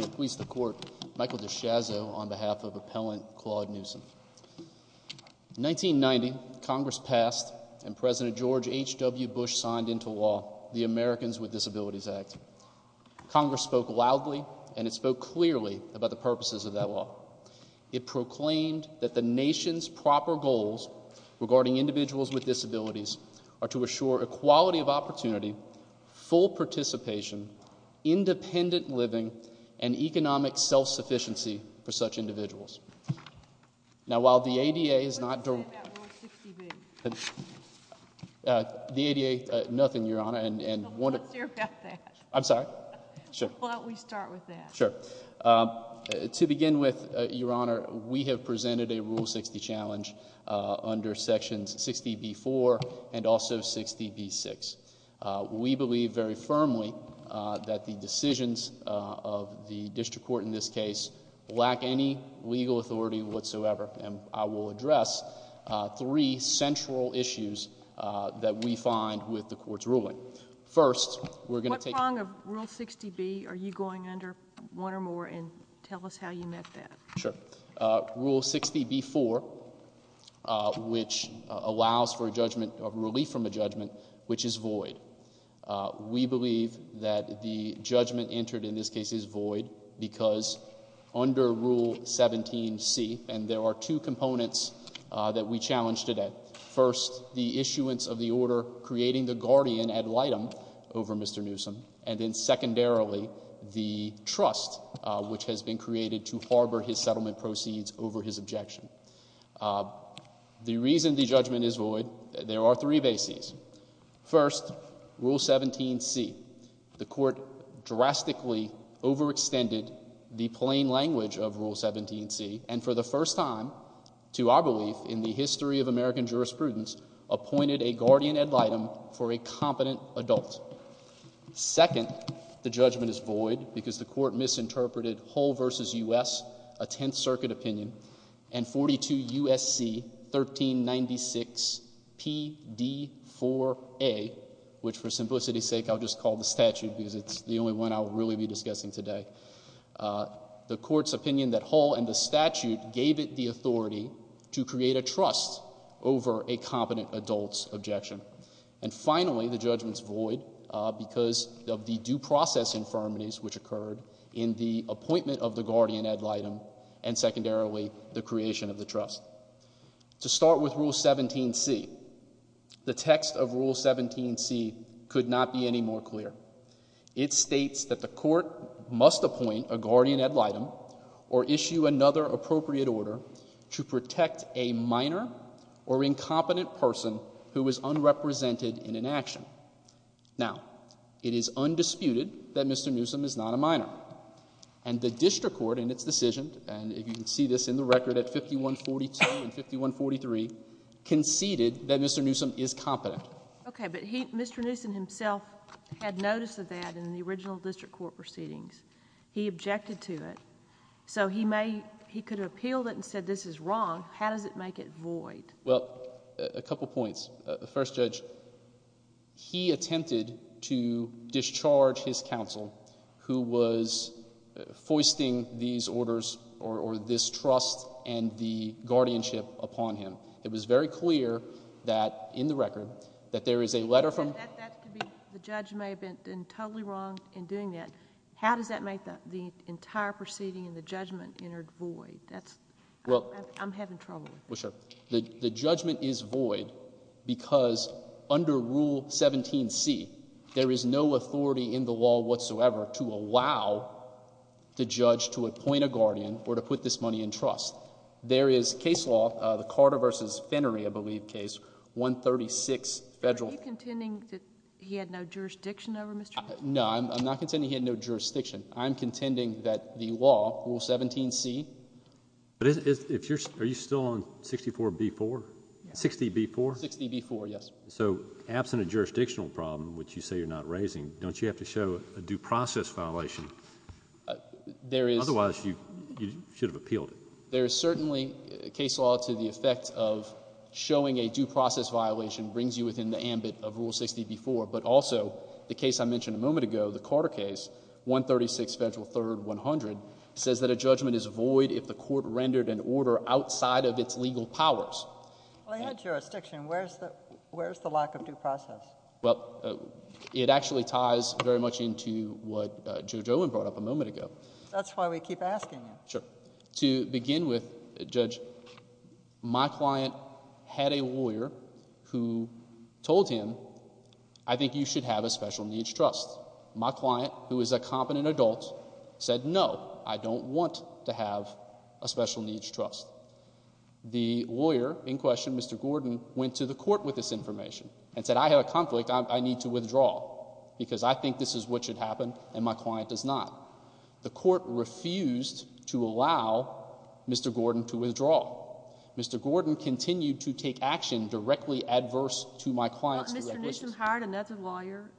Michael DiShazzo on behalf of Appellant Claude Newsom. In 1990, Congress passed and President George H.W. Bush signed into law the Americans with Disabilities Act. Congress spoke loudly and it spoke clearly about the purposes of that law. It proclaimed that the nation's proper goals regarding individuals with disabilities are to assure equality of opportunity, full participation, independent living, and economic self-sufficiency for such individuals. Now, while the ADA is not... What did you say about Rule 60B? The ADA, nothing, Your Honor. Let's hear about that. I'm sorry? Sure. Why don't we start with that? Sure. To begin with, Your Honor, we have presented a Rule 60 challenge under Sections 60B-4 and also 60B-6. We believe very firmly that the decisions of the district court in this case lack any legal authority whatsoever. And I will address three central issues that we find with the Court's ruling. First, we're going to take... What prong of Rule 60B are you going under one or more and tell us how you met that? Sure. Rule 60B-4, which allows for a judgment of relief from a judgment, which is void. We believe that the judgment entered in this case is void because under Rule 17C, and there are two components that we challenge today. First, the issuance of the order creating the guardian ad litem over Mr. Newsom, and then secondarily, the trust which has been created to harbor his settlement proceeds over his objection. The reason the judgment is void, there are three bases. First, Rule 17C. The Court drastically overextended the plain language of Rule 17C, and for the first time, to our belief, in the history of American jurisprudence, appointed a guardian ad litem for a competent adult. Second, the judgment is void because the Court misinterpreted Hull v. U.S., a Tenth Circuit opinion, and 42 U.S.C. 1396 P.D. 4A, which for simplicity's sake, I'll just call the statute because it's the only one I'll really be discussing today. The Court's opinion that Hull and the statute gave it the authority to create a trust over a competent adult's objection. And finally, the judgment's void because of the due process infirmities which occurred in the appointment of the guardian ad litem and secondarily, the creation of the trust. To start with Rule 17C, the text of Rule 17C could not be any more clear. It states that the Court must appoint a guardian ad litem or issue another appropriate order to protect a minor or incompetent person who is unrepresented in an action. Now, it is undisputed that Mr. Newsom is not a minor, and the district court in its decision, and you can see this in the record at 5142 and 5143, conceded that Mr. Newsom is competent. Okay, but Mr. Newsom himself had notice of that in the original district court proceedings. He objected to it. So he could have appealed it and said this is wrong. How does it make it void? Well, a couple points. First, Judge, he attempted to discharge his counsel who was foisting these orders or this trust and the guardianship upon him. It was very clear that in the record that there is a letter from— The judge may have been totally wrong in doing that. How does that make the entire proceeding and the judgment entered void? I'm having trouble with that. Well, sure. The judgment is void because under Rule 17C, there is no authority in the law whatsoever to allow the judge to appoint a guardian or to put this money in trust. There is case law, the Carter v. Finnery, I believe, case, 136 Federal— Are you contending that he had no jurisdiction over Mr. Newsom? No, I'm not contending he had no jurisdiction. I'm contending that the law, Rule 17C— Are you still on 64B-4? 60B-4? 60B-4, yes. So absent a jurisdictional problem, which you say you're not raising, don't you have to show a due process violation? There is— Otherwise, you should have appealed it. There is certainly case law to the effect of showing a due process violation brings you within the ambit of Rule 60B-4, but also the case I mentioned a moment ago, the Carter case, 136 Federal 3rd 100, says that a judgment is void if the court rendered an order outside of its legal powers. Well, he had jurisdiction. Where is the lack of due process? Well, it actually ties very much into what Judge Olin brought up a moment ago. That's why we keep asking you. Sure. To begin with, Judge, my client had a lawyer who told him, I think you should have a special needs trust. My client, who is a competent adult, said, no, I don't want to have a special needs trust. The lawyer in question, Mr. Gordon, went to the court with this information and said, I have a conflict. I need to withdraw because I think this is what should happen, and my client does not. The court refused to allow Mr. Gordon to withdraw. Mr. Gordon continued to take action directly adverse to my client's direct wishes. Well, Mr. Nishin hired another lawyer,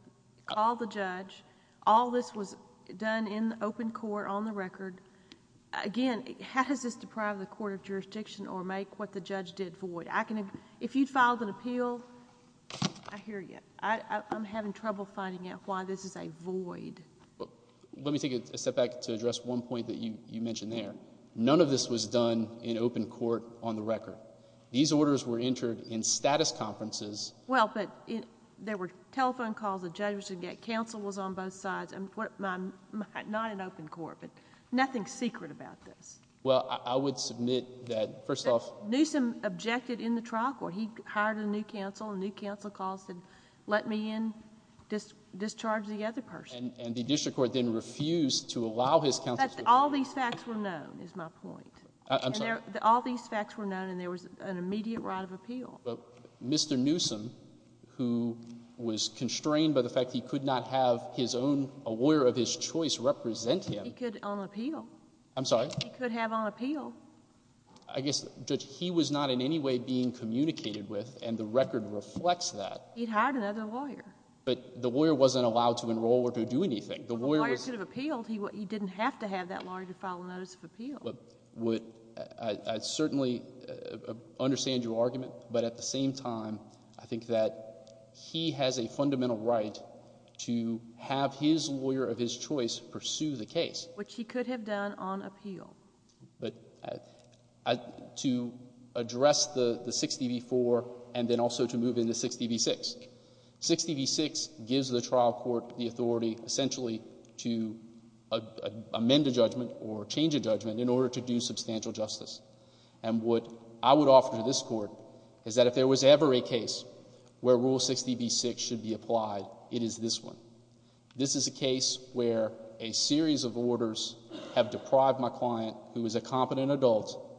called the judge. All this was done in open court on the record. Again, how does this deprive the court of jurisdiction or make what the judge did void? If you filed an appeal, I hear you. I'm having trouble finding out why this is a void. Well, let me take a step back to address one point that you mentioned there. None of this was done in open court on the record. These orders were entered in status conferences... Well, but there were telephone calls that judges would get. Counsel was on both sides. Not in open court, but nothing secret about this. Well, I would submit that, first off... Nishin objected in the trial court. He hired a new counsel. A new counsel called and let me in, discharged the other person. And the district court then refused to allow his counsel... But all these facts were known, is my point. I'm sorry. All these facts were known, and there was an immediate right of appeal. But Mr. Newsom, who was constrained by the fact that he could not have his own, a lawyer of his choice, represent him... He could on appeal. I'm sorry? He could have on appeal. I guess, Judge, he was not in any way being communicated with, and the record reflects that. He'd hired another lawyer. But the lawyer wasn't allowed to enroll or to do anything. The lawyer was... Well, the lawyer could have appealed. He didn't have to have that lawyer to file a notice of appeal. Well, I certainly understand your argument, but at the same time, I think that he has a fundamental right to have his lawyer of his choice pursue the case. Which he could have done on appeal. But to address the 60 v. 4, and then also to move into 60 v. 6. 60 v. 6 gives the trial court the authority, essentially, to amend a judgment or change a judgment in order to do substantial justice. And what I would offer to this court is that if there was ever a case where Rule 60 v. 6 should be applied, it is this one. This is a case where a series of orders have deprived my client, who is a competent adult,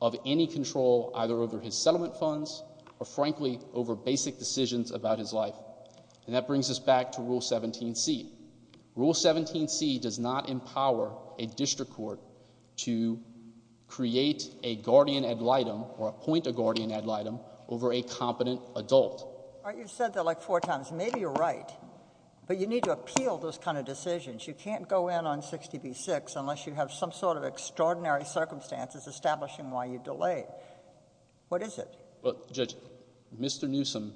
of any control either over his settlement funds or, frankly, over basic decisions about his life. And that brings us back to Rule 17c. Rule 17c does not empower a district court to create a guardian ad litem or appoint a guardian ad litem over a competent adult. All right, you've said that like four times. Maybe you're right. But you need to appeal those kind of decisions. You can't go in on 60 v. 6 unless you have some sort of extraordinary circumstances establishing why you delayed. What is it? Judge, Mr. Newsom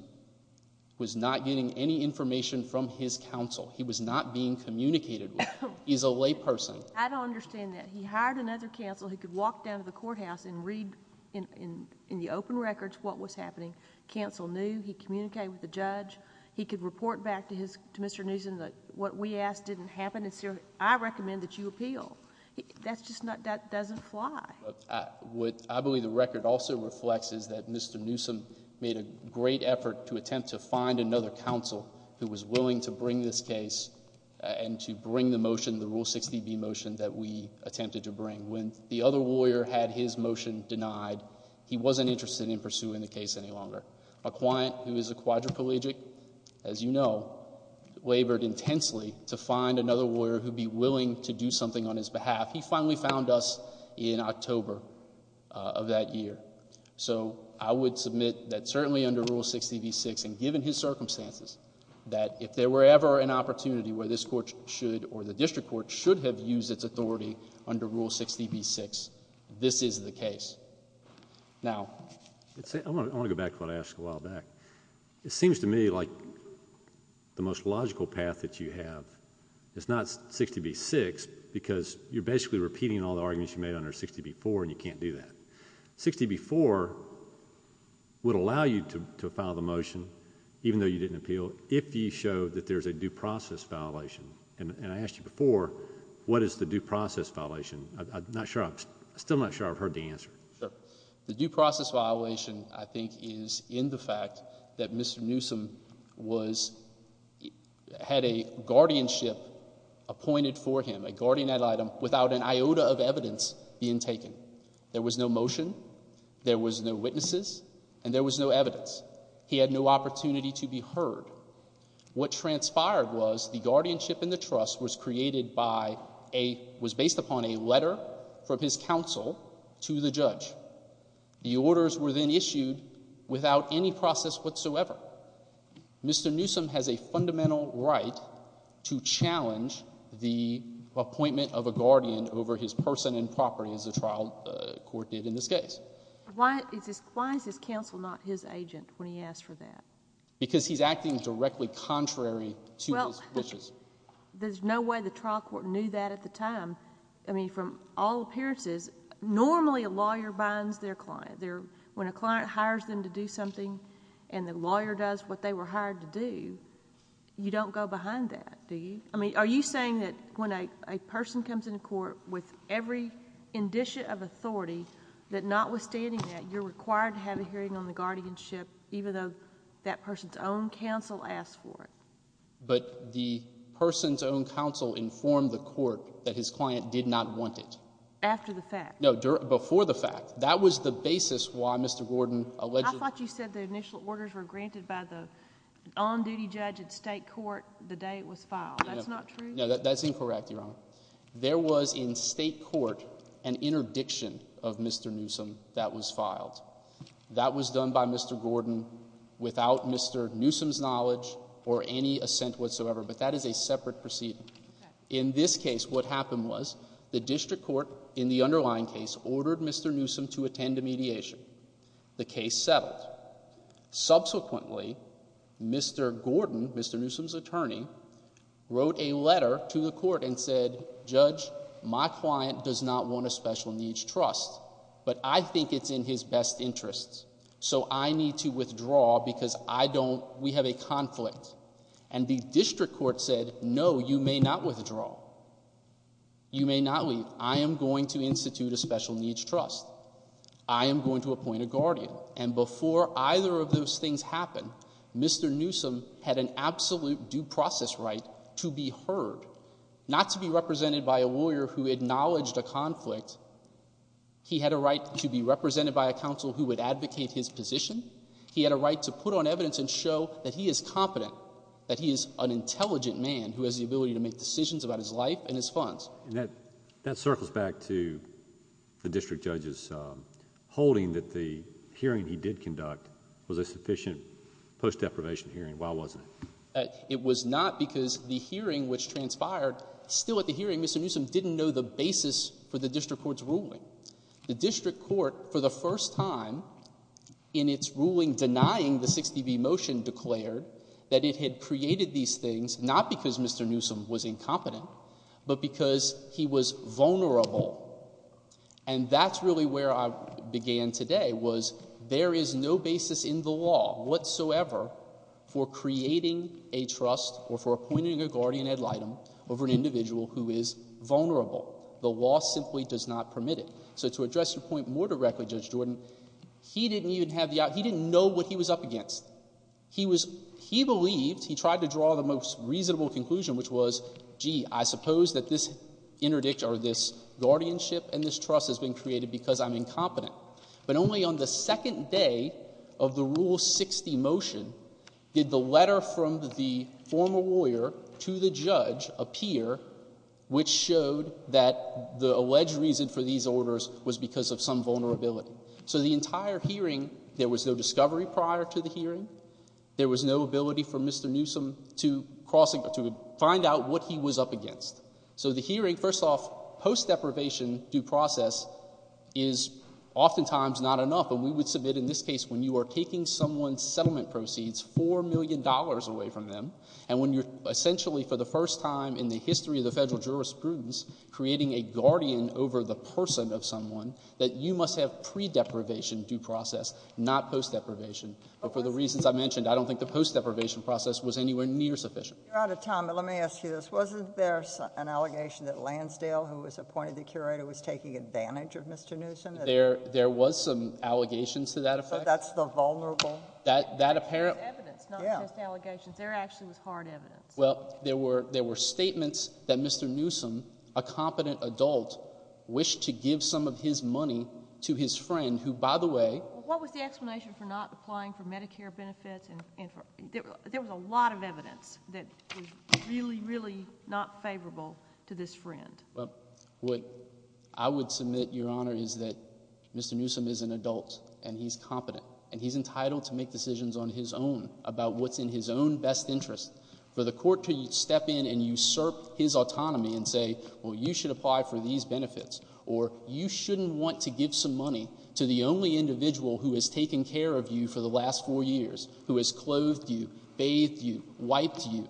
was not getting any information from his counsel. He was not being communicated with. He's a layperson. I don't understand that. He hired another counsel who could walk down to the courthouse and read in the open records what was happening. Counsel knew. He communicated with the judge. He could report back to Mr. Newsom that what we asked didn't happen. I recommend that you appeal. That just doesn't fly. What I believe the record also reflects is that Mr. Newsom made a great effort to attempt to find another counsel who was willing to bring this case and to bring the motion, the Rule 60b motion, that we attempted to bring. When the other lawyer had his motion denied, he wasn't interested in pursuing the case any longer. A client who is a quadriplegic, as you know, labored intensely to find another lawyer who would be willing to do something on his behalf. He finally found us in October of that year. So I would submit that certainly under Rule 60b-6 and given his circumstances, that if there were ever an opportunity where this court should or the district court should have used its authority under Rule 60b-6, this is the case. Now— I want to go back to what I asked a while back. It seems to me like the most logical path that you have is not 60b-6 because you're basically repeating all the arguments you made under 60b-4 and you can't do that. 60b-4 would allow you to file the motion, even though you didn't appeal, if you show that there's a due process violation. And I asked you before, what is the due process violation? I'm still not sure I've heard the answer. Sure. The due process violation, I think, is in the fact that Mr. Newsom had a guardianship appointed for him, a guardian ad litem, without an iota of evidence being taken. There was no motion, there was no witnesses, and there was no evidence. He had no opportunity to be heard. What transpired was the guardianship in the trust was created by a—was based upon a letter from his counsel to the judge. The orders were then issued without any process whatsoever. Mr. Newsom has a fundamental right to challenge the appointment of a guardian over his person and property, as the trial court did in this case. Why is his counsel not his agent when he asked for that? Because he's acting directly contrary to his wishes. There's no way the trial court knew that at the time. I mean, from all appearances, normally a lawyer binds their client. When a client hires them to do something and the lawyer does what they were hired to do, you don't go behind that, do you? I mean, are you saying that when a person comes into court with every indicia of authority, that notwithstanding that, you're required to have a hearing on the guardianship even though that person's own counsel asked for it? But the person's own counsel informed the court that his client did not want it. After the fact. No, before the fact. That was the basis why Mr. Gordon alleged— I thought you said the initial orders were granted by the on-duty judge at state court the day it was filed. That's not true? No, that's incorrect, Your Honor. There was in state court an interdiction of Mr. Newsom that was filed. That was done by Mr. Gordon without Mr. Newsom's knowledge or any assent whatsoever, but that is a separate proceeding. In this case, what happened was the district court in the underlying case ordered Mr. Newsom to attend a mediation. The case settled. Subsequently, Mr. Gordon, Mr. Newsom's attorney, wrote a letter to the court and said, Judge, my client does not want a special needs trust, but I think it's in his best interest, so I need to withdraw because I don't—we have a conflict. And the district court said, no, you may not withdraw. You may not leave. I am going to institute a special needs trust. I am going to appoint a guardian. And before either of those things happened, Mr. Newsom had an absolute due process right to be heard, not to be represented by a lawyer who acknowledged a conflict. He had a right to be represented by a counsel who would advocate his position. He had a right to put on evidence and show that he is competent, that he is an intelligent man who has the ability to make decisions about his life and his funds. And that circles back to the district judge's holding that the hearing he did conduct was a sufficient post-deprivation hearing. Why wasn't it? It was not because the hearing which transpired, still at the hearing, Mr. Newsom didn't know the basis for the district court's ruling. The district court, for the first time in its ruling denying the 60B motion, declared that it had created these things not because Mr. Newsom was incompetent, but because he was vulnerable. And that's really where I began today was there is no basis in the law whatsoever for creating a trust or for appointing a guardian ad litem over an individual who is vulnerable. The law simply does not permit it. So to address your point more directly, Judge Jordan, he didn't even have the – he didn't know what he was up against. He was – he believed – he tried to draw the most reasonable conclusion, which was, gee, I suppose that this interdict or this guardianship and this trust has been created because I'm incompetent. But only on the second day of the Rule 60 motion did the letter from the former lawyer to the judge appear, which showed that the alleged reason for these orders was because of some vulnerability. So the entire hearing, there was no discovery prior to the hearing. There was no ability for Mr. Newsom to cross – to find out what he was up against. So the hearing, first off, post-deprivation due process is oftentimes not enough, and we would submit in this case when you are taking someone's settlement proceeds $4 million away from them and when you're essentially for the first time in the history of the federal jurisprudence creating a guardian over the person of someone, that you must have pre-deprivation due process, not post-deprivation. But for the reasons I mentioned, I don't think the post-deprivation process was anywhere near sufficient. You're out of time, but let me ask you this. Wasn't there an allegation that Lansdale, who was appointed the curator, was taking advantage of Mr. Newsom? There was some allegations to that effect. So that's the vulnerable? That apparent – There was evidence, not just allegations. There actually was hard evidence. Well, there were statements that Mr. Newsom, a competent adult, wished to give some of his money to his friend who, by the way – What was the explanation for not applying for Medicare benefits? There was a lot of evidence that was really, really not favorable to this friend. Well, what I would submit, Your Honor, is that Mr. Newsom is an adult, and he's competent, and he's entitled to make decisions on his own about what's in his own best interest. For the court to step in and usurp his autonomy and say, well, you should apply for these benefits, or you shouldn't want to give some money to the only individual who has taken care of you for the last four years, who has clothed you, bathed you, wiped you,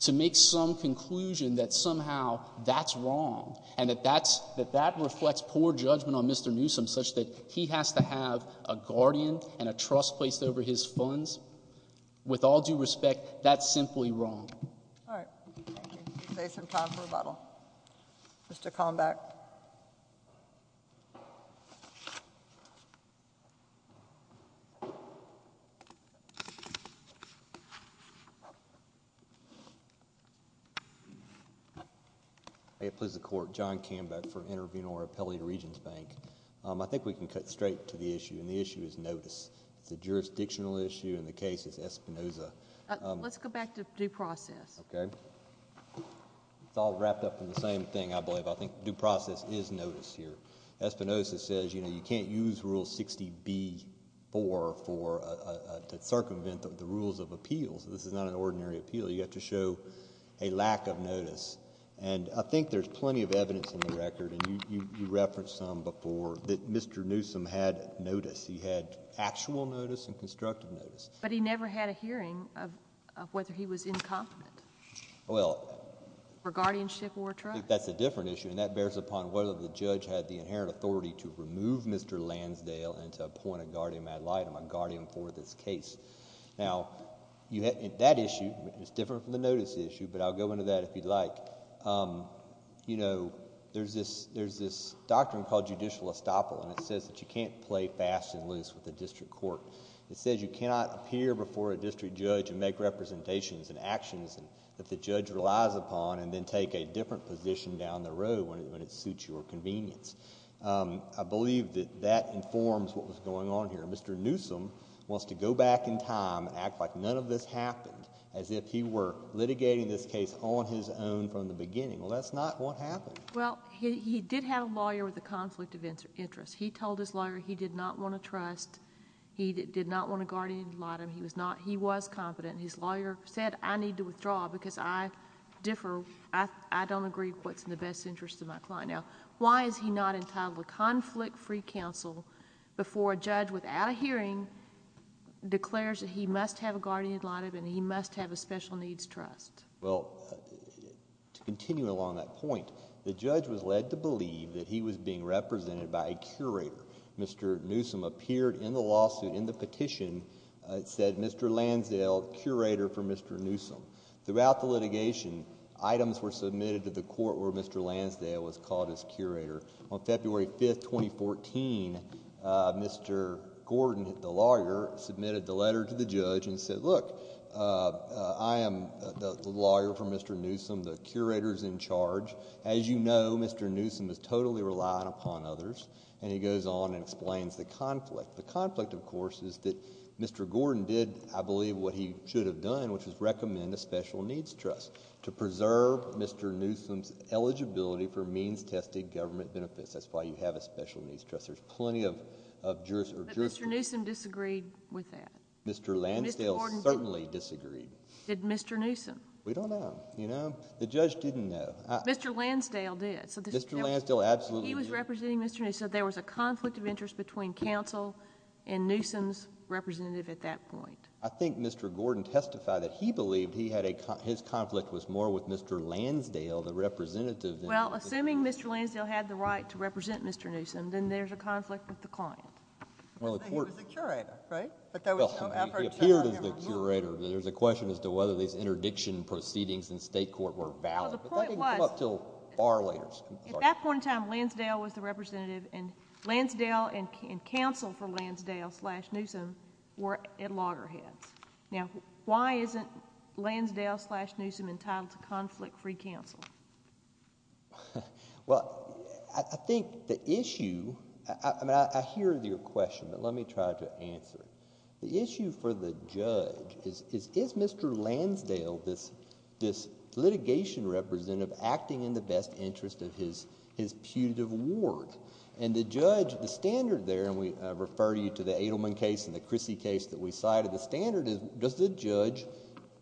to make some conclusion that somehow that's wrong, and that that's – that that reflects poor judgment on Mr. Newsom, such that he has to have a guardian and a trust placed over his funds, with all due respect, that's simply wrong. All right. Thank you. We can save some time for rebuttal. Mr. Conback. May it please the Court. John Conback for Intervenor Appellate Regions Bank. I think we can cut straight to the issue, and the issue is notice. It's a jurisdictional issue, and the case is Espinoza. Let's go back to due process. Okay. It's all wrapped up in the same thing, I believe. I think due process is notice here. Espinoza says, you know, you can't use Rule 60b-4 for – to circumvent the rules of appeals. This is not an ordinary appeal. You have to show a lack of notice, and I think there's plenty of evidence in the record, and you referenced some before, that Mr. Newsom had notice. He had actual notice and constructive notice. But he never had a hearing of whether he was incompetent. Well – For guardianship or trust. I think that's a different issue, and that bears upon whether the judge had the inherent authority to remove Mr. Lansdale and to appoint a guardian ad litem, a guardian for this case. Now, that issue is different from the notice issue, but I'll go into that if you'd like. You know, there's this doctrine called judicial estoppel, and it says that you can't play fast and loose with the district court. It says you cannot appear before a district judge and make representations and actions that the judge relies upon and then take a different position down the road when it suits your convenience. I believe that that informs what was going on here. Mr. Newsom wants to go back in time and act like none of this happened, as if he were litigating this case on his own from the beginning. Well, that's not what happened. Well, he did have a lawyer with a conflict of interest. He told his lawyer he did not want to trust. He did not want a guardian ad litem. He was not – he was competent. His lawyer said, I need to withdraw because I differ. I don't agree with what's in the best interest of my client. Now, why is he not entitled to conflict-free counsel before a judge without a hearing declares that he must have a guardian ad litem and he must have a special needs trust? Well, to continue along that point, the judge was led to believe that he was being represented by a curator. Mr. Newsom appeared in the lawsuit in the petition and said, Mr. Lansdale, curator for Mr. Newsom. Throughout the litigation, items were submitted to the court where Mr. Lansdale was called as curator. On February 5, 2014, Mr. Gordon, the lawyer, submitted the letter to the judge and said, look, I am the lawyer for Mr. Newsom. The curator is in charge. As you know, Mr. Newsom is totally reliant upon others. And he goes on and explains the conflict. The conflict, of course, is that Mr. Gordon did, I believe, what he should have done, which was recommend a special needs trust to preserve Mr. Newsom's eligibility for means-tested government benefits. That's why you have a special needs trust. There's plenty of jurisprudence. But Mr. Newsom disagreed with that. Mr. Lansdale certainly disagreed. Did Mr. Newsom? We don't know, you know. The judge didn't know. Mr. Lansdale did. Mr. Lansdale absolutely did. He was representing Mr. Newsom. There was a conflict of interest between counsel and Newsom's representative at that point. I think Mr. Gordon testified that he believed his conflict was more with Mr. Lansdale, the representative. Well, assuming Mr. Lansdale had the right to represent Mr. Newsom, then there's a conflict with the client. But he was the curator, right? He appeared as the curator. There's a question as to whether these interdiction proceedings in state court were valid. But that didn't come up until far later. At that point in time, Lansdale was the representative, and Lansdale and counsel for Lansdale slash Newsom were at loggerheads. Now, why isn't Lansdale slash Newsom entitled to conflict-free counsel? Well, I think the issue, I mean I hear your question, but let me try to answer it. The issue for the judge is, is Mr. Lansdale, this litigation representative, acting in the best interest of his putative ward? And the judge, the standard there, and we refer you to the Adelman case and the Chrissy case that we cited, the standard is, does the judge,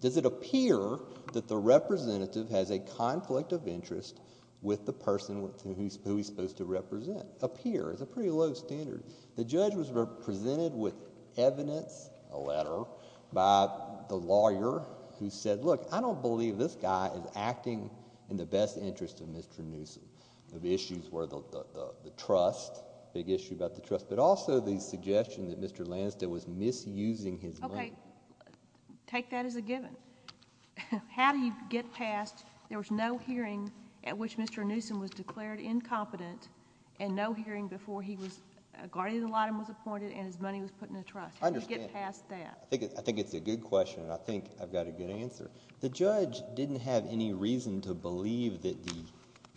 does it appear that the representative has a conflict of interest with the person who he's supposed to represent? Appear is a pretty low standard. The judge was presented with evidence, a letter, by the lawyer who said, look, I don't believe this guy is acting in the best interest of Mr. Newsom. The issues were the trust, big issue about the trust, but also the suggestion that Mr. Lansdale was misusing his money. Okay, take that as a given. How do you get past, there was no hearing at which Mr. Newsom was declared incompetent and no hearing before he was, guardian ad litem was appointed and his money was put in the trust. How do you get past that? I think it's a good question, and I think I've got a good answer. The judge didn't have any reason to believe that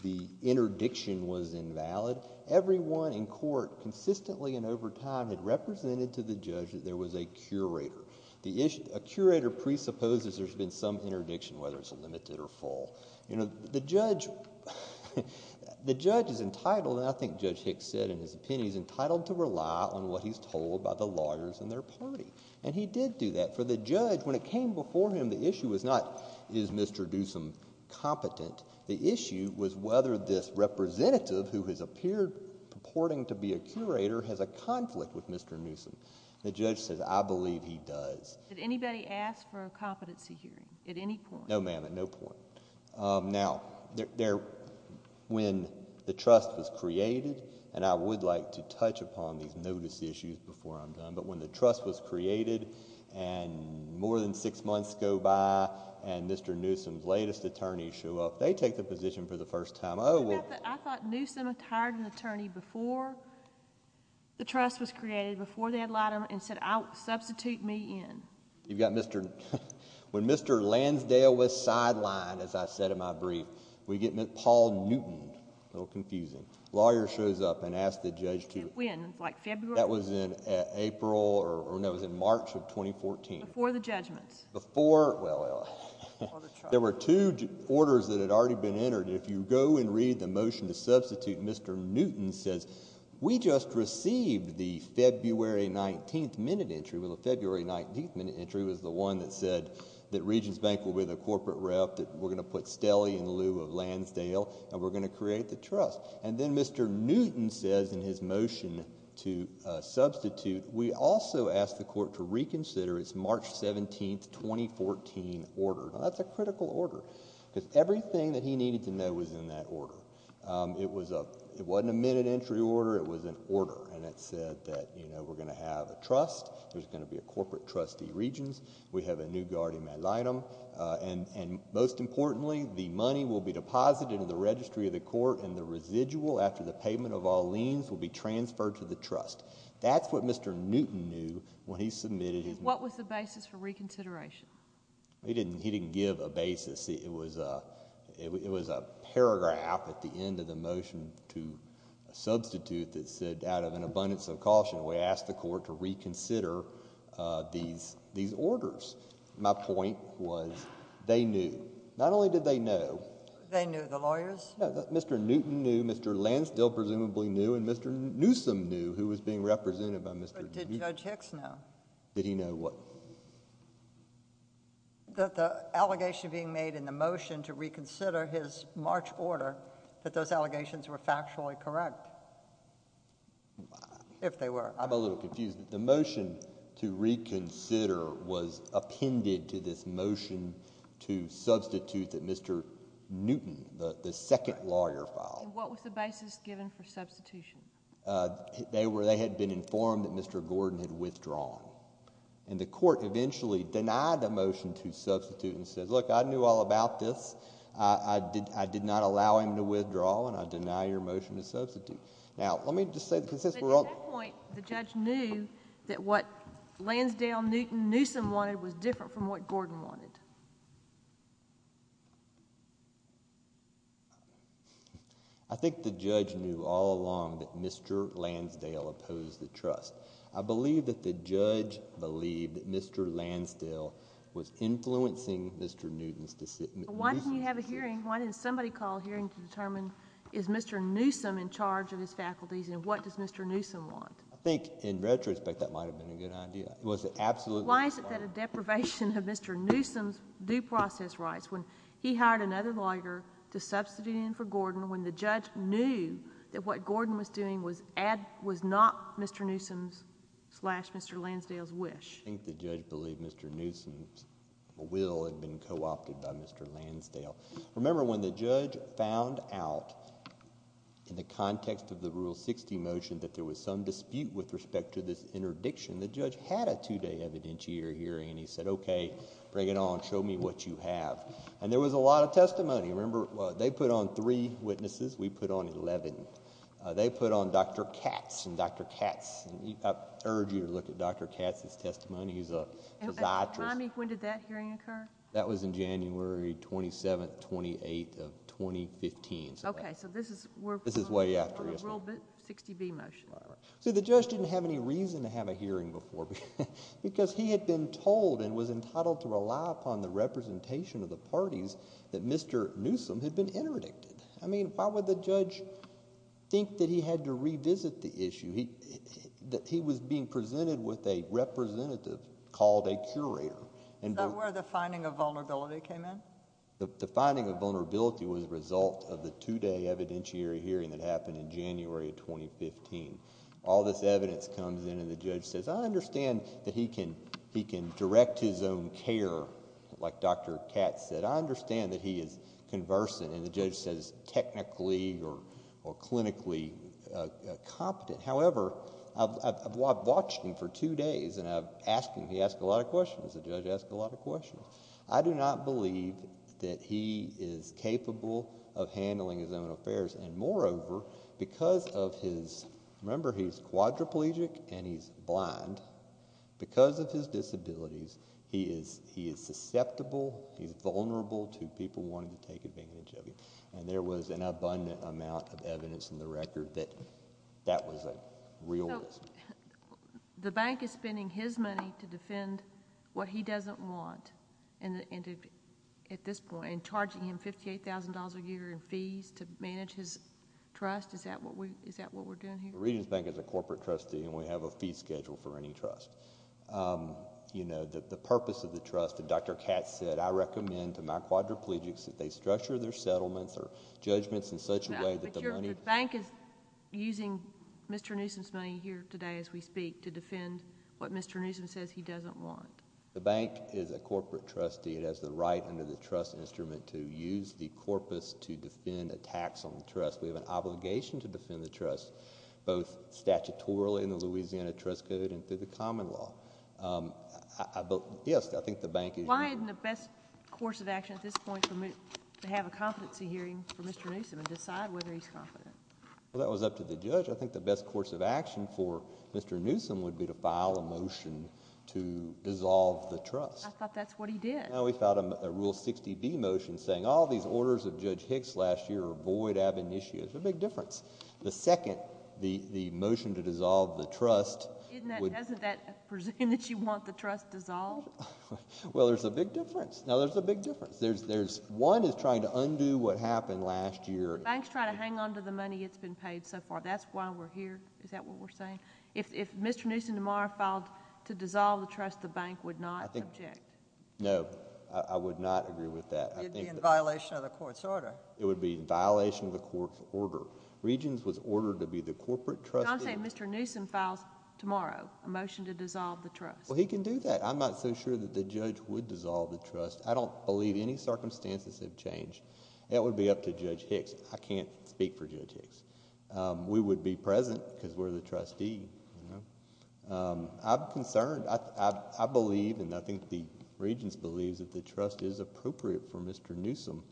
the interdiction was invalid. Everyone in court consistently and over time had represented to the judge that there was a curator. A curator presupposes there's been some interdiction, whether it's limited or full. The judge is entitled, and I think Judge Hicks said in his opinion, he's entitled to rely on what he's told by the lawyers in their party, and he did do that. For the judge, when it came before him, the issue was not is Mr. Newsom competent. The issue was whether this representative who has appeared purporting to be a curator has a conflict with Mr. Newsom. The judge said, I believe he does. Did anybody ask for a competency hearing at any point? No, ma'am, at no point. Now, when the trust was created, and I would like to touch upon these notice issues before I'm done, but when the trust was created and more than six months go by and Mr. Newsom's latest attorneys show up, they take the position for the first time. I thought Newsom had hired an attorney before the trust was created, before the ad litem, and said, substitute me in. When Mr. Lansdale was sidelined, as I said in my brief, we get Paul Newton, a little confusing, a lawyer shows up and asks the judge to. When, like February? That was in April, or no, it was in March of 2014. Before the judgments. Before, well, there were two orders that had already been entered. If you go and read the motion to substitute, Mr. Newton says, we just received the February 19th minute entry. Well, the February 19th minute entry was the one that said that Regions Bank will be the corporate rep, that we're going to put Stelly in lieu of Lansdale, and we're going to create the trust. And then Mr. Newton says in his motion to substitute, we also asked the court to reconsider its March 17th, 2014 order. Now, that's a critical order because everything that he needed to know was in that order. It wasn't a minute entry order, it was an order, and it said that we're going to have a trust, there's going to be a corporate trustee, Regions, we have a new guardian ad litem, and most importantly, the money will be deposited in the registry of the court and the residual after the payment of all liens will be transferred to the trust. That's what Mr. Newton knew when he submitted his motion. What was the basis for reconsideration? He didn't give a basis. It was a paragraph at the end of the motion to substitute that said, out of an abundance of caution, we asked the court to reconsider these orders. My point was they knew. Not only did they know... They knew, the lawyers? No, Mr. Newton knew, Mr. Lansdale presumably knew, and Mr. Newsome knew, who was being represented by Mr.... But did Judge Hicks know? Did he know what? That the allegation being made in the motion to reconsider his March order, that those allegations were factually correct, if they were. I'm a little confused. The motion to reconsider was appended to this motion to substitute that Mr. Newton, the second lawyer, filed. And what was the basis given for substitution? They had been informed that Mr. Gordon had withdrawn, and the court eventually denied the motion to substitute and said, look, I knew all about this. I did not allow him to withdraw, and I deny your motion to substitute. Now, let me just say... But at that point, the judge knew that what Lansdale, Newton, Newsome wanted was different from what Gordon wanted. I think the judge knew all along that Mr. Lansdale opposed the trust. I believe that the judge believed that Mr. Lansdale was influencing Mr. Newton's decision. Why didn't you have a hearing? Why didn't somebody call a hearing to determine, is Mr. Newsome in charge of his faculties, and what does Mr. Newsome want? I think, in retrospect, that might have been a good idea. It was absolutely... Why is it that a deprivation of Mr. Newsome's due process rights, when he hired another lawyer to substitute in for Gordon, when the judge knew that what Gordon was doing was not Mr. Newsome's slash Mr. Lansdale's wish? I think the judge believed Mr. Newsome's will had been co-opted by Mr. Lansdale. Remember, when the judge found out, in the context of the Rule 60 motion, that there was some dispute with respect to this interdiction, the judge had a two-day evidentiator hearing, and he said, okay, bring it on. Show me what you have. And there was a lot of testimony. Remember, they put on three witnesses. We put on 11. They put on Dr. Katz, and Dr. Katz... I urge you to look at Dr. Katz's testimony. He's a psychiatrist. And remind me, when did that hearing occur? That was in January 27th, 28th of 2015. Okay, so this is... This is way after...... for the Rule 60b motion. See, the judge didn't have any reason to have a hearing before, because he had been told and was entitled to rely upon the representation of the parties that Mr. Newsome had been interdicted. I mean, why would the judge think that he had to revisit the issue? He was being presented with a representative called a curator. Is that where the finding of vulnerability came in? The finding of vulnerability was a result of the two-day evidentiary hearing that happened in January of 2015. All this evidence comes in, and the judge says, I understand that he can direct his own care, like Dr. Katz said. I understand that he is conversant, and the judge says technically or clinically competent. However, I've watched him for two days, and I've asked him... He asks a lot of questions. The judge asks a lot of questions. I do not believe that he is capable of handling his own affairs. And moreover, because of his... remember, he's quadriplegic and he's blind. Because of his disabilities, he is susceptible, he's vulnerable to people wanting to take advantage of him. And there was an abundant amount of evidence in the record that that was a real risk. The bank is spending his money to defend what he doesn't want at this point, and charging him $58,000 a year in fees to manage his trust. Is that what we're doing here? Regions Bank is a corporate trustee, and we have a fee schedule for any trust. You know, the purpose of the trust, and Dr. Katz said, I recommend to my quadriplegics that they structure their settlements or judgments in such a way that the money... to defend what Mr. Newsom says he doesn't want. The bank is a corporate trustee. It has the right under the trust instrument to use the corpus to defend a tax on the trust. We have an obligation to defend the trust, both statutorily in the Louisiana Trust Code and through the common law. Yes, I think the bank is... Why isn't the best course of action at this point to have a competency hearing for Mr. Newsom and decide whether he's confident? Well, that was up to the judge. I think the best course of action for Mr. Newsom would be to file a motion to dissolve the trust. I thought that's what he did. No, we filed a Rule 60B motion saying all these orders of Judge Hicks last year are void, ab initio. There's a big difference. The second, the motion to dissolve the trust... Isn't that... doesn't that presume that you want the trust dissolved? Well, there's a big difference. Now, there's a big difference. There's... one is trying to undo what happened last year. The bank's trying to hang on to the money it's been paid so far. That's why we're here. Is that what we're saying? If Mr. Newsom tomorrow filed to dissolve the trust, the bank would not object. No, I would not agree with that. It would be in violation of the court's order. It would be in violation of the court's order. Regions was ordered to be the corporate trust... Johnson, if Mr. Newsom files tomorrow a motion to dissolve the trust... Well, he can do that. I'm not so sure that the judge would dissolve the trust. I don't believe any circumstances have changed. That would be up to Judge Hicks. I can't speak for Judge Hicks. We would be present because we're the trustee. I'm concerned. I believe and I think the Regents believe that the trust is appropriate for Mr. Newsom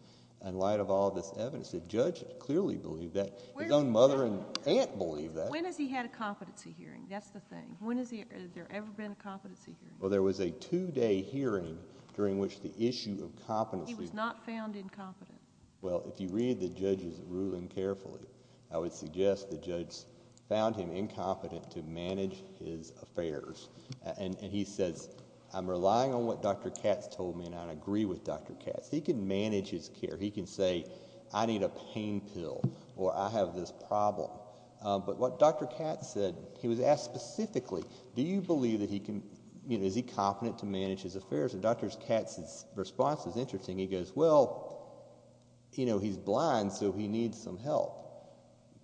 in light of all this evidence. The judge clearly believed that. His own mother and aunt believed that. When has he had a competency hearing? That's the thing. When has there ever been a competency hearing? Well, there was a two-day hearing during which the issue of competency... He was not found incompetent. Well, if you read the judge's ruling carefully, I would suggest the judge found him incompetent to manage his affairs. He says, I'm relying on what Dr. Katz told me and I agree with Dr. Katz. He can manage his care. He can say, I need a pain pill or I have this problem. What Dr. Katz said, he was asked specifically, do you believe that he can... Is he competent to manage his affairs? Dr. Katz's response is interesting. He goes, well, he's blind so he needs some help.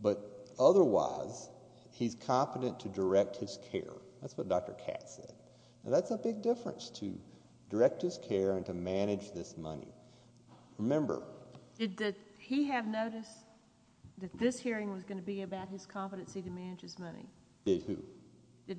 But, otherwise, he's competent to direct his care. That's what Dr. Katz said. That's a big difference to direct his care and to manage this money. Remember... Did he have notice that this hearing was going to be about his competency to manage his money? Did who? Well,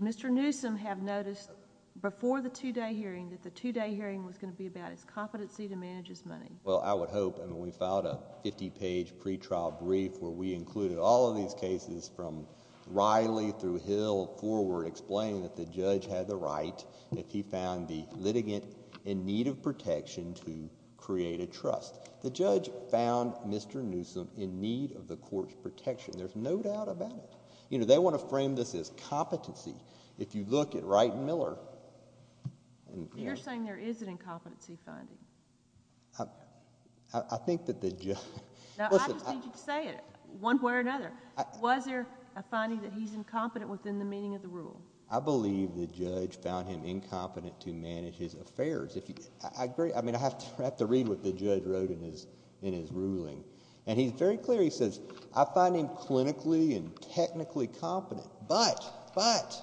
I would hope. We filed a fifty-page pre-trial brief where we included all of these cases from Riley through Hill forward explaining that the judge had the right, if he found the litigant in need of protection, to create a trust. The judge found Mr. Newsom in need of the court's protection. There's no doubt about it. They want to frame this as competency. If you look at Wright and Miller... You're saying there is an incompetency finding. I think that the judge... Now, I just need you to say it, one way or another. Was there a finding that he's incompetent within the meaning of the rule? I believe the judge found him incompetent to manage his affairs. I agree. I mean, I have to read what the judge wrote in his ruling. He's very clear. He says, I find him clinically and technically competent, but... but...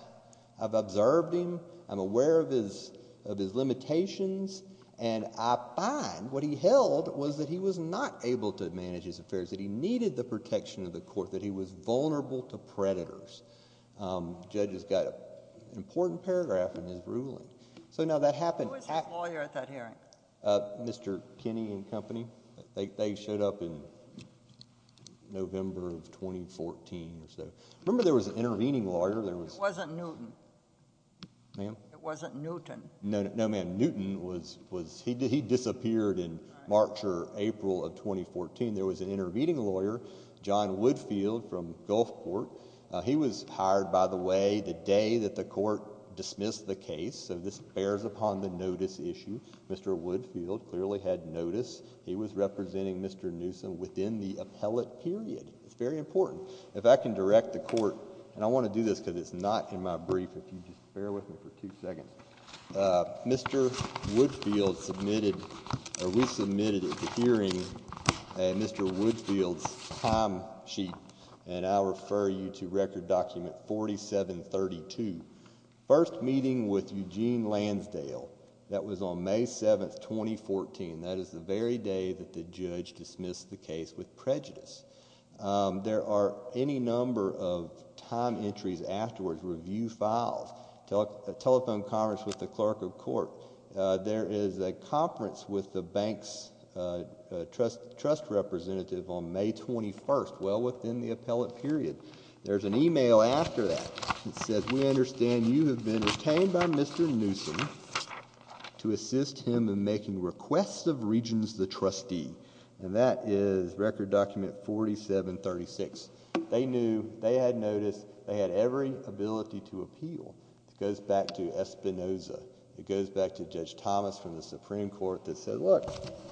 I've observed him. I'm aware of his limitations. I find what he held was that he was not able to manage his affairs, that he needed the protection of the court, that he was vulnerable to predators. The judge has got an important paragraph in his ruling. Now, that happened... Who was his lawyer at that hearing? Mr. Kinney and Company. They showed up in November of 2014 or so. Remember there was an intervening lawyer. It wasn't Newton. Ma'am? It wasn't Newton. No, ma'am. Newton was... he disappeared in March or April of 2014. There was an intervening lawyer, John Woodfield from Gulfport. He was hired, by the way, the day that the court dismissed the case. This bears upon the notice issue. Mr. Woodfield clearly had notice. He was representing Mr. Newsom within the appellate period. It's very important. If I can direct the court... and I want to do this because it's not in my brief. If you just bear with me for two seconds. Mr. Woodfield submitted... or we submitted at the hearing Mr. Woodfield's time sheet. I'll refer you to Record Document 4732. First meeting with Eugene Lansdale. That was on May 7, 2014. That is the very day that the judge dismissed the case with prejudice. There are any number of time entries afterwards. Review files. Telephone conference with the clerk of court. There is a conference with the bank's trust representative on May 21, well within the appellate period. There's an email after that. It says, we understand you have been detained by Mr. Newsom to assist him in making requests of Regents the trustee. That is Record Document 4736. They knew. They had notice. They had every ability to appeal. It goes back to Espinoza. It goes back to Judge Thomas from the Supreme Court that said, look,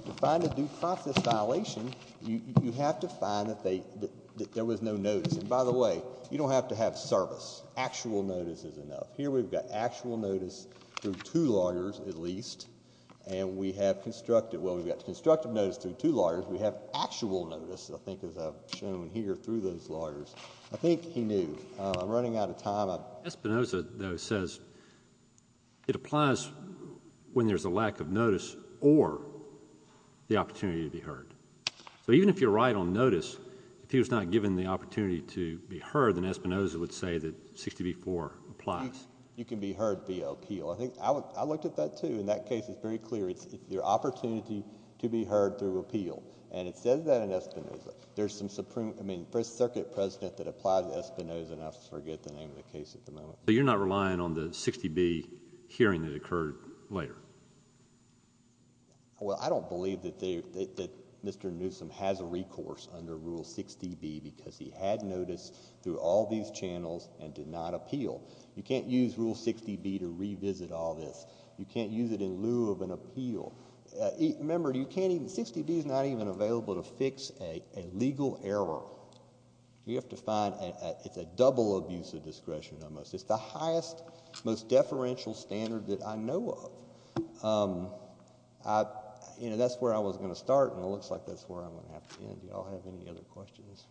to find a due process violation, you have to find that there was no notice. By the way, you don't have to have service. Actual notice is enough. Here we've got actual notice through two lawyers at least. We have constructive. Well, we've got constructive notice through two lawyers. We have actual notice, I think, as I've shown here through those lawyers. I think he knew. I'm running out of time. Espinoza, though, says it applies when there's a lack of notice or the opportunity to be heard. Even if you're right on notice, if he was not given the opportunity to be heard, then Espinoza would say that 60 v. 4 applies. You can be heard via appeal. I looked at that, too, and that case is very clear. It's your opportunity to be heard through appeal, and it says that in Espinoza. There's some Supreme, I mean, First Circuit precedent that applies to Espinoza, and I forget the name of the case at the moment. So you're not relying on the 60 v. hearing that occurred later? Well, I don't believe that Mr. Newsom has a recourse under Rule 60 v. because he had notice through all these channels and did not appeal. You can't use Rule 60 v. to revisit all this. You can't use it in lieu of an appeal. Remember, 60 v. is not even available to fix a legal error. You have to find a double abuse of discretion almost. It's the highest, most deferential standard that I know of. That's where I was going to start, and it looks like that's where I'm going to have to end. Do you all have any other questions?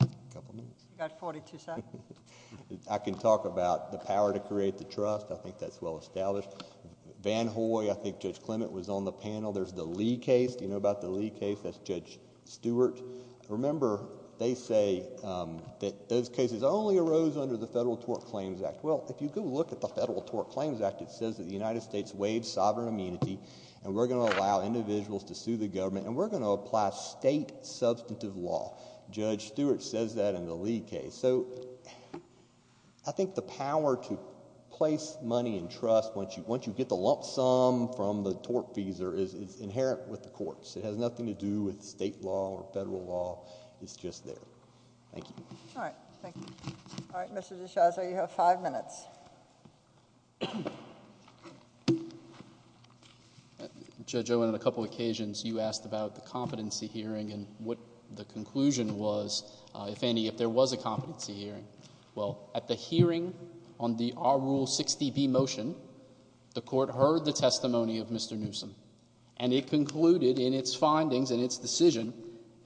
A couple minutes. You've got 42 seconds. I can talk about the power to create the trust. I think that's well established. Van Hoy, I think Judge Clement was on the panel. There's the Lee case. Do you know about the Lee case? That's Judge Stewart. Remember, they say that those cases only arose under the Federal Tort Claims Act. Well, if you go look at the Federal Tort Claims Act, it says that the United States waived sovereign immunity, and we're going to allow individuals to sue the government, and we're going to apply state substantive law. Judge Stewart says that in the Lee case. I think the power to place money in trust once you get the lump sum from the tortfeasor is inherent with the courts. It has nothing to do with state law or federal law. It's just there. Thank you. All right. Thank you. All right, Mr. D'Souza, you have five minutes. Judge Owen, on a couple occasions you asked about the competency hearing and what the conclusion was, if any, if there was a competency hearing. Well, at the hearing on the R-Rule 60B motion, the court heard the testimony of Mr. Newsom, and it concluded in its findings and its decision,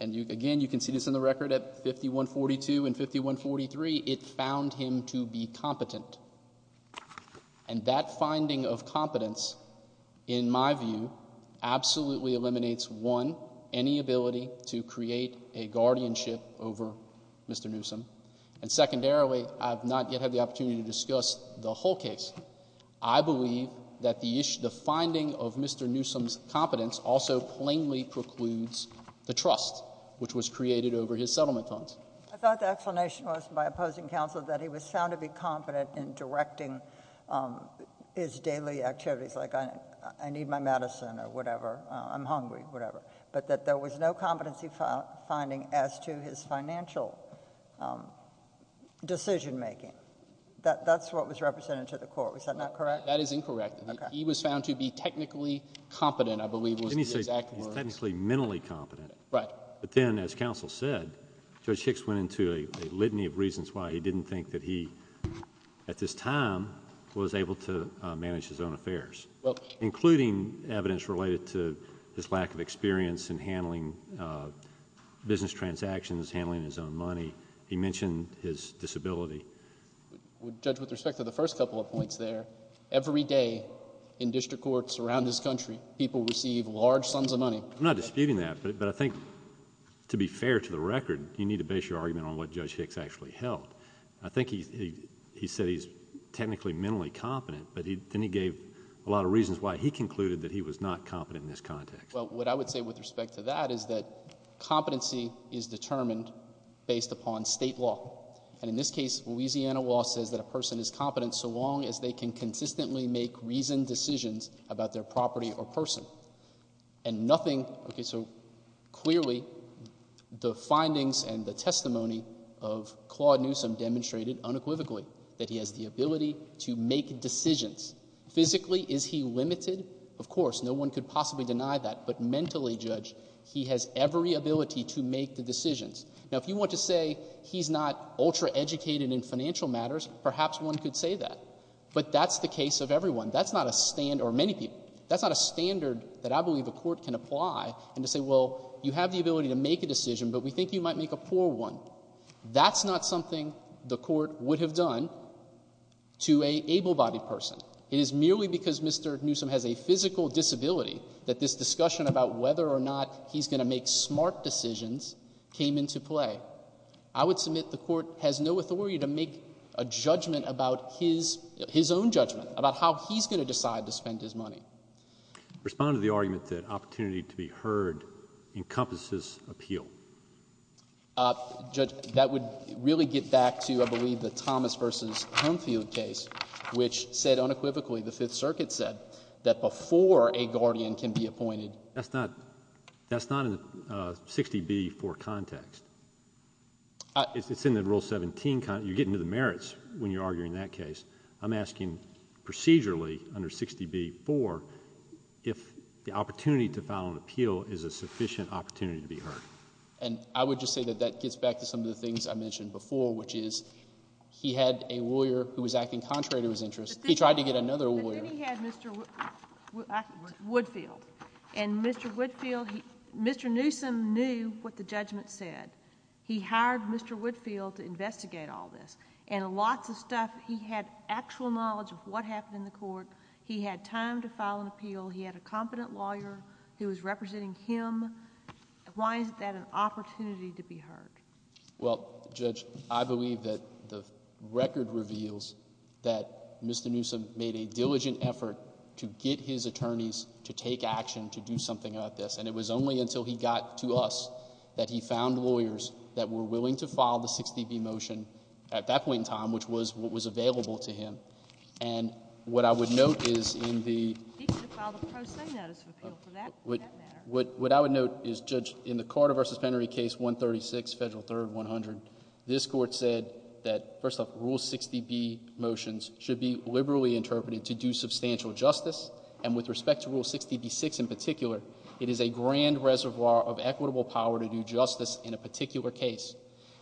and again, you can see this in the record at 5142 and 5143, it found him to be competent. And that finding of competence, in my view, absolutely eliminates, one, any ability to create a guardianship over Mr. Newsom, and secondarily, I have not yet had the opportunity to discuss the whole case. I believe that the finding of Mr. Newsom's competence also plainly precludes the trust which was created over his settlement funds. I thought the explanation was, by opposing counsel, that he was found to be competent in directing his daily activities, like I need my medicine or whatever, I'm hungry, whatever, but that there was no competency finding as to his financial decision making. That's what was represented to the court. Was that not correct? That is incorrect. He was found to be technically competent, I believe, was the exact word. He's technically mentally competent. Right. But then, as counsel said, Judge Hicks went into a litany of reasons why he didn't think that he, at this time, was able to manage his own affairs, including evidence related to his lack of experience in handling business transactions, handling his own money. He mentioned his disability. Judge, with respect to the first couple of points there, every day in district courts around this country, people receive large sums of money. I'm not disputing that, but I think, to be fair to the record, you need to base your argument on what Judge Hicks actually held. I think he said he's technically mentally competent, but then he gave a lot of reasons why he concluded that he was not competent in this context. Well, what I would say with respect to that is that competency is determined based upon state law. And in this case, Louisiana law says that a person is competent so long as they can consistently make reasoned decisions about their property or person. And nothing, okay, so clearly the findings and the testimony of Claude Newsom demonstrated unequivocally that he has the ability to make decisions. Physically, is he limited? Of course. No one could possibly deny that. But mentally, Judge, he has every ability to make the decisions. Now, if you want to say he's not ultra-educated in financial matters, perhaps one could say that. But that's the case of everyone. That's not a standard, or many people. That's not a standard that I believe a court can apply and to say, well, you have the ability to make a decision, but we think you might make a poor one. That's not something the court would have done to an able-bodied person. It is merely because Mr. Newsom has a physical disability that this discussion about whether or not he's going to make smart decisions came into play. I would submit the court has no authority to make a judgment about his own judgment, about how he's going to decide to spend his money. Respond to the argument that opportunity to be heard encompasses appeal. Judge, that would really get back to, I believe, the Thomas v. Humfield case, which said unequivocally, the Fifth Circuit said, that before a guardian can be appointed. That's not in the 60b-4 context. It's in the Rule 17 context. You're getting to the merits when you're arguing that case. I'm asking procedurally, under 60b-4, if the opportunity to file an appeal is a sufficient opportunity to be heard. And I would just say that that gets back to some of the things I mentioned before, which is he had a lawyer who was acting contrary to his interests. He tried to get another lawyer. But then he had Mr. Woodfield. And Mr. Woodfield, Mr. Newsom knew what the judgment said. He hired Mr. Woodfield to investigate all this. And lots of stuff. He had actual knowledge of what happened in the court. He had time to file an appeal. He had a competent lawyer who was representing him. Why is that an opportunity to be heard? Well, Judge, I believe that the record reveals that Mr. Newsom made a diligent effort to get his attorneys to take action, to do something about this. And it was only until he got to us that he found lawyers that were willing to file the 60b motion at that point in time, which was what was available to him. And what I would note is in the… He could have filed a pro se notice of appeal for that matter. What I would note is, Judge, in the Carter v. Pennery case 136, Federal Third 100, this Court said that, first off, Rule 60b motions should be liberally interpreted to do substantial justice. And with respect to Rule 60b-6 in particular, it is a grand reservoir of equitable power to do justice in a particular case.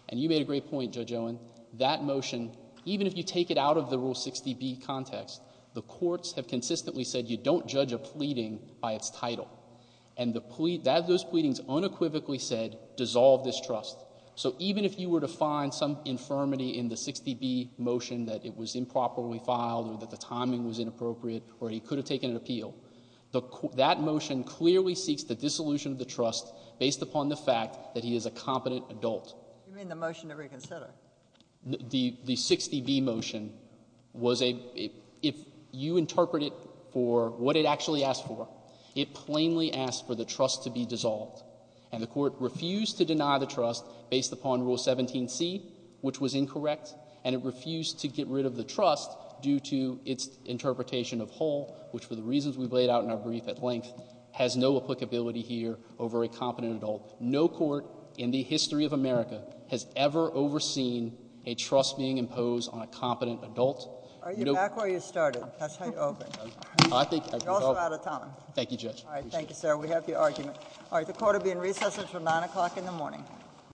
And you made a great point, Judge Owen. That motion, even if you take it out of the Rule 60b context, the courts have consistently said you don't judge a pleading by its title. And those pleadings unequivocally said dissolve this trust. So even if you were to find some infirmity in the 60b motion that it was improperly filed or that the timing was inappropriate or he could have taken an appeal, that motion clearly seeks the dissolution of the trust based upon the fact that he is a competent adult. You mean the motion to reconsider? The 60b motion was a — if you interpret it for what it actually asked for, it plainly asked for the trust to be dissolved. And the Court refused to deny the trust based upon Rule 17c, which was incorrect, and it refused to get rid of the trust due to its interpretation of whole, which, for the reasons we've laid out in our brief at length, has no applicability here over a competent adult. No court in the history of America has ever overseen a trust being imposed on a competent adult. Are you back where you started? That's how you open. I think — You're also out of time. Thank you, Judge. All right. Thank you, sir. We have your argument. All right. The Court will be in recess until 9 o'clock in the morning.